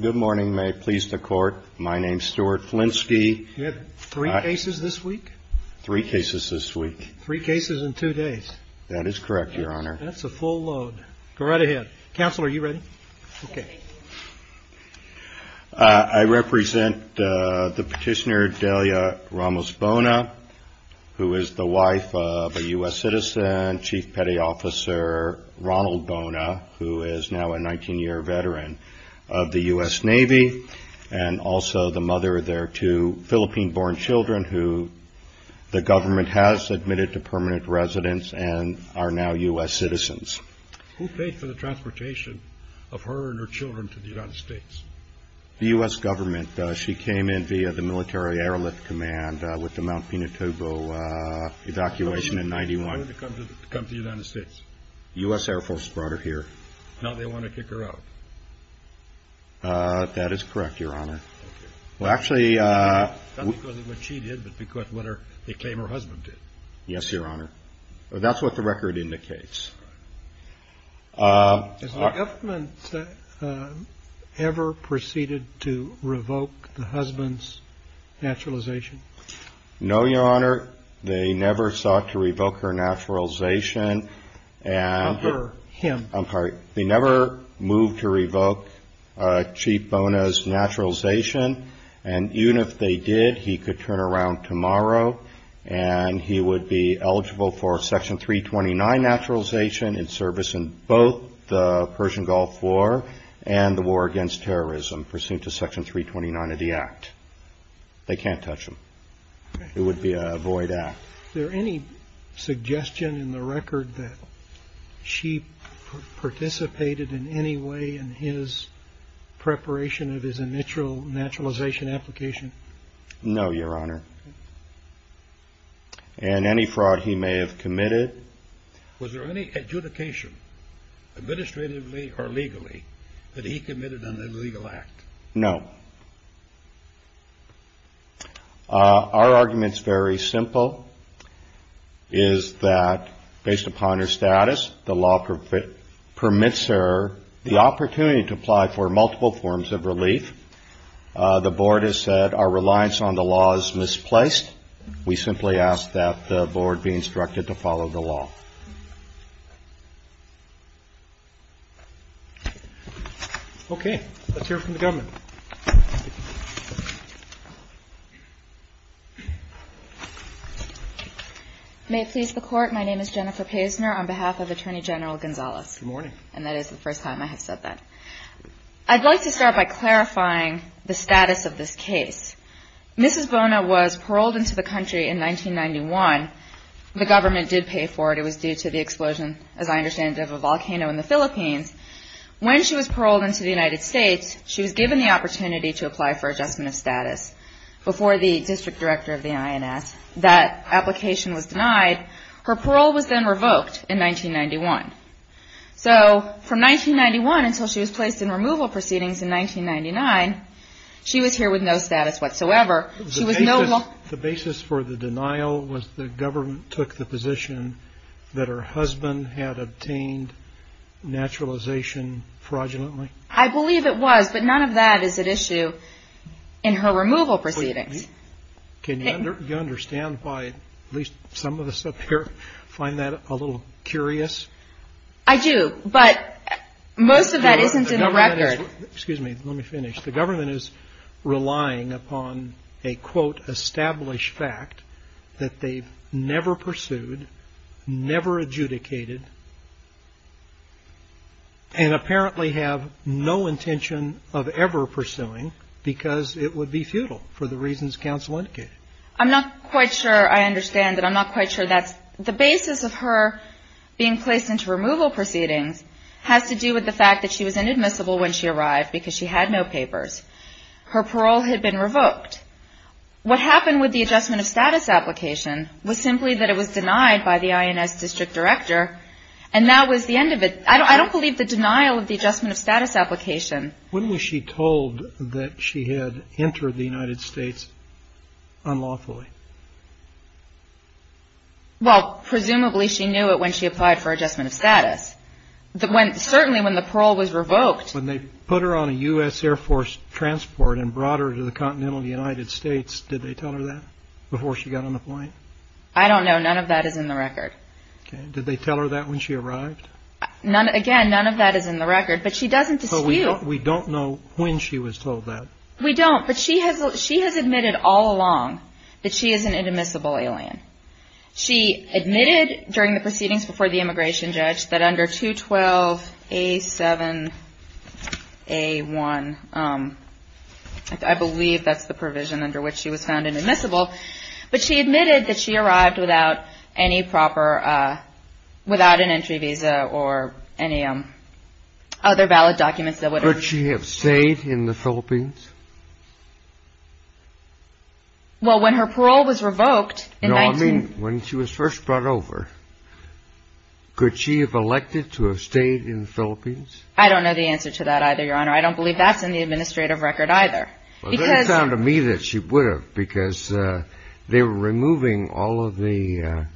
Good morning. May it please the Court, my name is Stuart Flinsky. You have three cases this week? Three cases this week. Three cases in two days. That is correct, Your Honor. That's a full load. Go right ahead. Counselor, are you ready? I represent the Petitioner Delia Ramos-Bona, who is the wife of a U.S. citizen, Chief Petty Officer Ronald Bona, who is now a 19-year veteran of the U.S. Navy, and also the mother of their two Philippine-born children, who the government has admitted to permanent residence and are now U.S. citizens. Who paid for the transportation of her and her children to the United States? The U.S. government. She came in via the military airlift command with the Mount Pinatubo evacuation in 1991. Why did they come to the United States? The U.S. Air Force brought her here. Now they want to kick her out. That is correct, Your Honor. Not because of what she did, but because of what they claim her husband did. Yes, Your Honor. That's what the record indicates. Has the government ever proceeded to revoke the husband's naturalization? No, Your Honor. They never sought to revoke her naturalization. Not her, him. I'm sorry. They never moved to revoke Chief Bona's naturalization. And even if they did, he could turn around tomorrow, and he would be eligible for Section 329 naturalization in service in both the Persian Gulf War and the war against terrorism, pursuant to Section 329 of the Act. They can't touch him. It would be a void act. Is there any suggestion in the record that she participated in any way in his preparation of his initial naturalization application? No, Your Honor. And any fraud he may have committed? Was there any adjudication, administratively or legally, that he committed an illegal act? No. Our argument is very simple, is that based upon her status, the law permits her the opportunity to apply for multiple forms of relief. The Board has said our reliance on the law is misplaced. We simply ask that the Board be instructed to follow the law. Okay. Let's hear from the government. May it please the Court, my name is Jennifer Paisner on behalf of Attorney General Gonzales. Good morning. And that is the first time I have said that. I'd like to start by clarifying the status of this case. Mrs. Bona was paroled into the country in 1991. The government did pay for it. It was due to the explosion, as I understand it, of a volcano in the Philippines. When she was paroled into the United States, she was given the opportunity to apply for adjustment of status before the district director of the INS. That application was denied. Her parole was then revoked in 1991. So from 1991 until she was placed in removal proceedings in 1999, she was here with no status whatsoever. The basis for the denial was the government took the position that her husband had obtained naturalization fraudulently? I believe it was, but none of that is at issue in her removal proceedings. Can you understand why at least some of us up here find that a little curious? I do, but most of that isn't in the record. Excuse me. Let me finish. The government is relying upon a, quote, established fact that they've never pursued, never adjudicated, and apparently have no intention of ever pursuing because it would be futile for the reasons counsel indicated. I'm not quite sure I understand that. I'm not quite sure that's the basis of her being placed into removal proceedings has to do with the fact that she was inadmissible when she arrived because she had no papers. Her parole had been revoked. What happened with the adjustment of status application was simply that it was denied by the INS district director, and that was the end of it. I don't believe the denial of the adjustment of status application. When was she told that she had entered the United States unlawfully? Certainly when the parole was revoked. When they put her on a U.S. Air Force transport and brought her to the continental United States, did they tell her that before she got on the plane? I don't know. None of that is in the record. Did they tell her that when she arrived? Again, none of that is in the record, but she doesn't dispute. We don't know when she was told that. We don't, but she has admitted all along that she is an inadmissible alien. She admitted during the proceedings before the immigration judge that under 212A7A1, I believe that's the provision under which she was found inadmissible, but she admitted that she arrived without an entry visa or any other valid documents. Well, when her parole was revoked in 19- No, I mean when she was first brought over. Could she have elected to have stayed in the Philippines? I don't know the answer to that either, Your Honor. I don't believe that's in the administrative record either. Well, it doesn't sound to me that she would have because they were removing all of the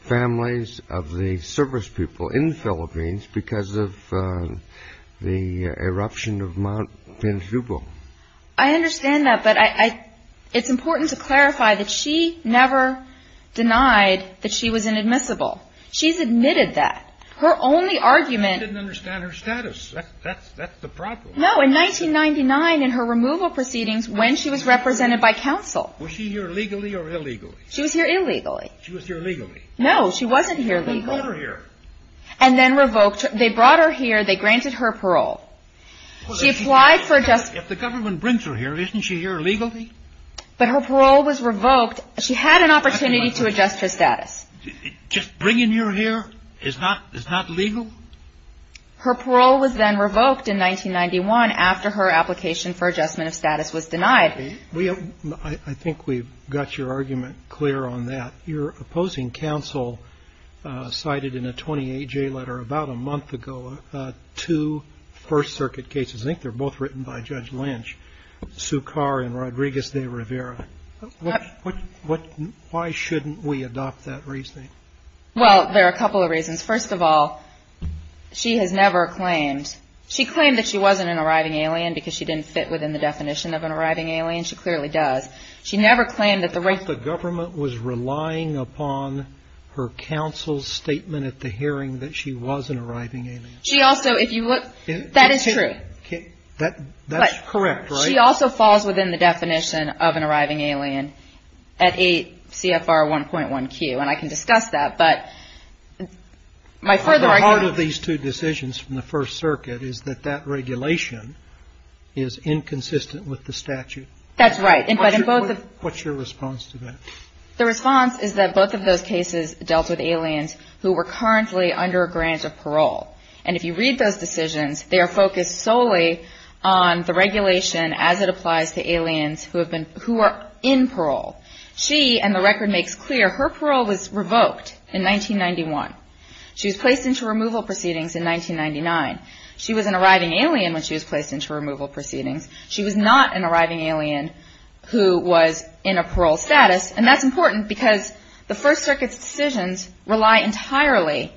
families of the service people in the Philippines because of the eruption of Mount Pinjubo. I understand that, but it's important to clarify that she never denied that she was inadmissible. She's admitted that. Her only argument- She didn't understand her status. That's the problem. No, in 1999, in her removal proceedings, when she was represented by counsel- Was she here legally or illegally? She was here illegally. She was here legally. No, she wasn't here legally. They brought her here. And then revoked her. They brought her here. They granted her parole. She applied for- If the government brings her here, isn't she here legally? But her parole was revoked. She had an opportunity to adjust her status. Just bringing her here is not legal? Her parole was then revoked in 1991 after her application for adjustment of status was denied. I think we've got your argument clear on that. Your opposing counsel cited in a 28-J letter about a month ago two First Circuit cases. I think they're both written by Judge Lynch, Sukar and Rodriguez de Rivera. Why shouldn't we adopt that reasoning? Well, there are a couple of reasons. First of all, she has never claimed- She claimed that she wasn't an arriving alien because she didn't fit within the definition of an arriving alien. She clearly does. She never claimed that the- Because the government was relying upon her counsel's statement at the hearing that she was an arriving alien. She also, if you look- That is true. That's correct, right? She also falls within the definition of an arriving alien at 8 CFR 1.1Q. And I can discuss that, but my further argument- The heart of these two decisions from the First Circuit is that that regulation is inconsistent with the statute. That's right. What's your response to that? The response is that both of those cases dealt with aliens who were currently under a grant of parole. And if you read those decisions, they are focused solely on the regulation as it applies to aliens who are in parole. She, and the record makes clear, her parole was revoked in 1991. She was placed into removal proceedings in 1999. She was an arriving alien when she was placed into removal proceedings. She was not an arriving alien who was in a parole status. And that's important because the First Circuit's decisions rely entirely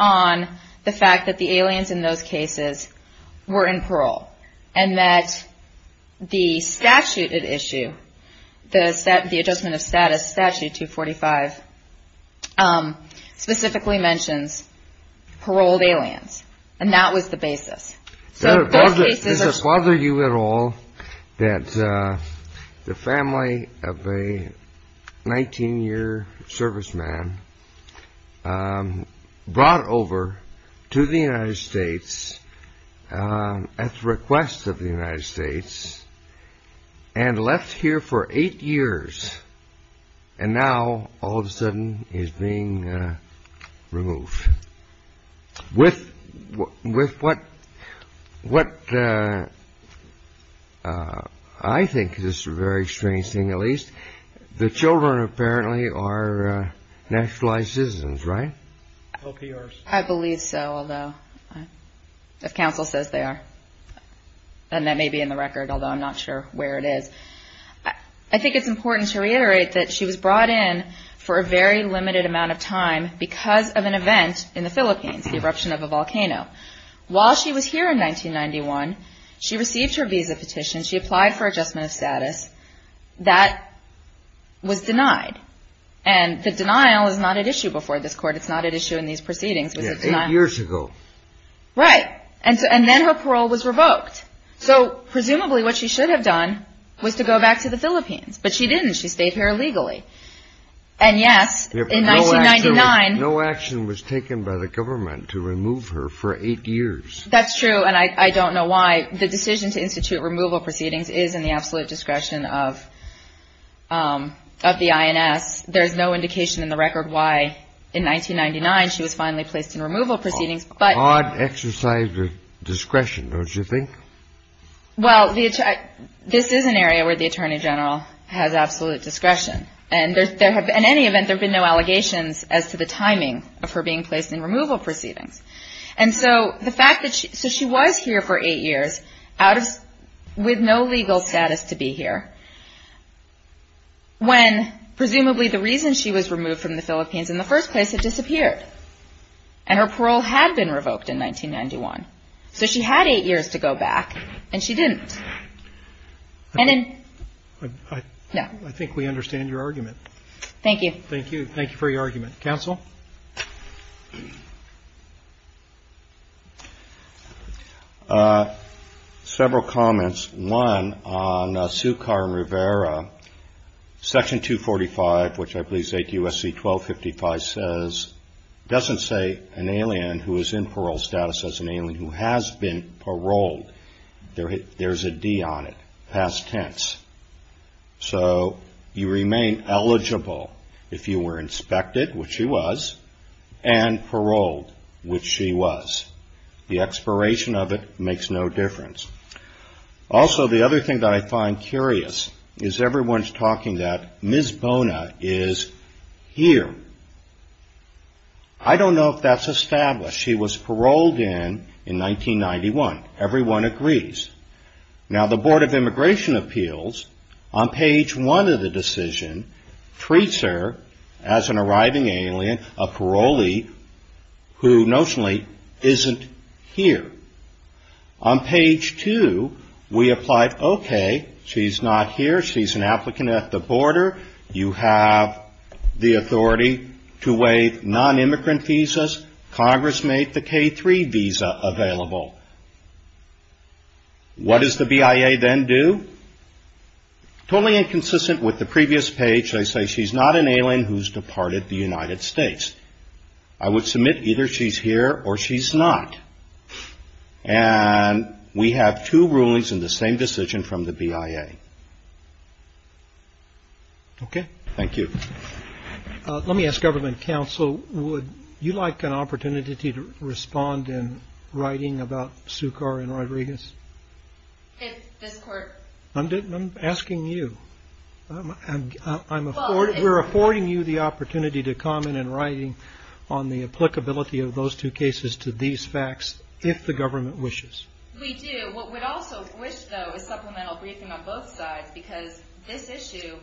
on the fact that the aliens in those cases were in parole. And that the statute at issue, the Adjustment of Status Statute 245, specifically mentions paroled aliens. And that was the basis. Does it bother you at all that the family of a 19-year serviceman brought over to the United States at the request of the United States and left here for eight years and now all of a sudden is being removed? With what I think is a very strange thing at least, the children apparently are nationalized citizens, right? I believe so, although if counsel says they are. And that may be in the record, although I'm not sure where it is. I think it's important to reiterate that she was brought in for a very limited amount of time because of an event in the Philippines, the eruption of a volcano. While she was here in 1991, she received her visa petition. She applied for Adjustment of Status. That was denied. And the denial is not at issue before this Court. It's not at issue in these proceedings. It was a denial. Eight years ago. Right. And then her parole was revoked. So presumably what she should have done was to go back to the Philippines. But she didn't. She stayed here illegally. And yes, in 1999. No action was taken by the government to remove her for eight years. That's true, and I don't know why. The decision to institute removal proceedings is in the absolute discretion of the INS. There's no indication in the record why in 1999 she was finally placed in removal proceedings. Hard exercise of discretion, don't you think? Well, this is an area where the Attorney General has absolute discretion. And in any event, there have been no allegations as to the timing of her being placed in removal proceedings. And so the fact that she was here for eight years with no legal status to be here, when presumably the reason she was removed from the Philippines in the first place had disappeared and her parole had been revoked in 1991. So she had eight years to go back, and she didn't. I think we understand your argument. Thank you. Thank you. Thank you for your argument. Counsel? Several comments. One, on Sukar and Rivera, Section 245, which I believe is 8 U.S.C. 1255, doesn't say an alien who is in parole status as an alien who has been paroled. There's a D on it, past tense. So you remain eligible if you were inspected, which she was, and paroled, which she was. The expiration of it makes no difference. Also, the other thing that I find curious is everyone's talking that Ms. Bona is here. I don't know if that's established. She was paroled in in 1991. Everyone agrees. Now, the Board of Immigration Appeals, on page one of the decision, treats her as an arriving alien, a parolee who notionally isn't here. On page two, we applied, okay, she's not here. She's an applicant at the border. You have the authority to waive nonimmigrant visas. Congress made the K-3 visa available. What does the BIA then do? Totally inconsistent with the previous page, they say she's not an alien who's departed the United States. I would submit either she's here or she's not. And we have two rulings in the same decision from the BIA. Okay. Thank you. Let me ask government counsel, would you like an opportunity to respond in writing about Sukar and Rodriguez? If this court- I'm asking you. We're affording you the opportunity to comment in writing on the applicability of those two cases to these facts, if the government wishes. We do. What we'd also wish, though, is supplemental briefing on both sides, because this issue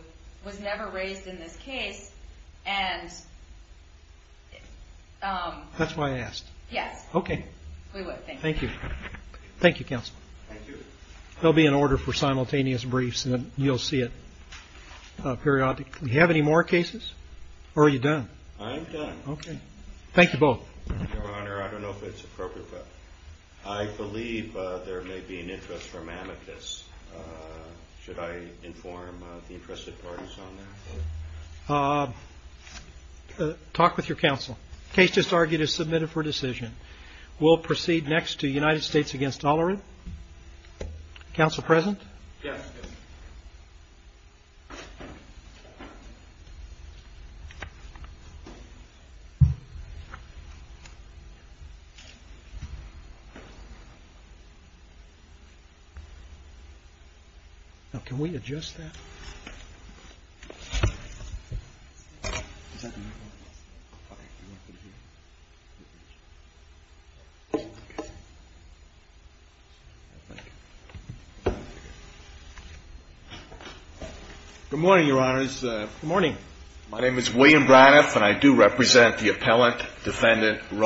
was never raised in this case, and- That's why I asked. Yes. Okay. We would, thank you. Thank you, counsel. Thank you. There'll be an order for simultaneous briefs, and you'll see it periodically. Do you have any more cases, or are you done? I'm done. Okay. Thank you both. Your Honor, I don't know if it's appropriate, but I believe there may be an interest from amicus. Should I inform the interested parties on that? Talk with your counsel. Case just argued is submitted for decision. We'll proceed next to United States against Tolerant. Counsel present? Yes. Thank you. Now, can we adjust that? Good morning, Your Honors. Good morning. My name is William Braniff, and I do represent the appellant, defendant, Roberts, Thank you.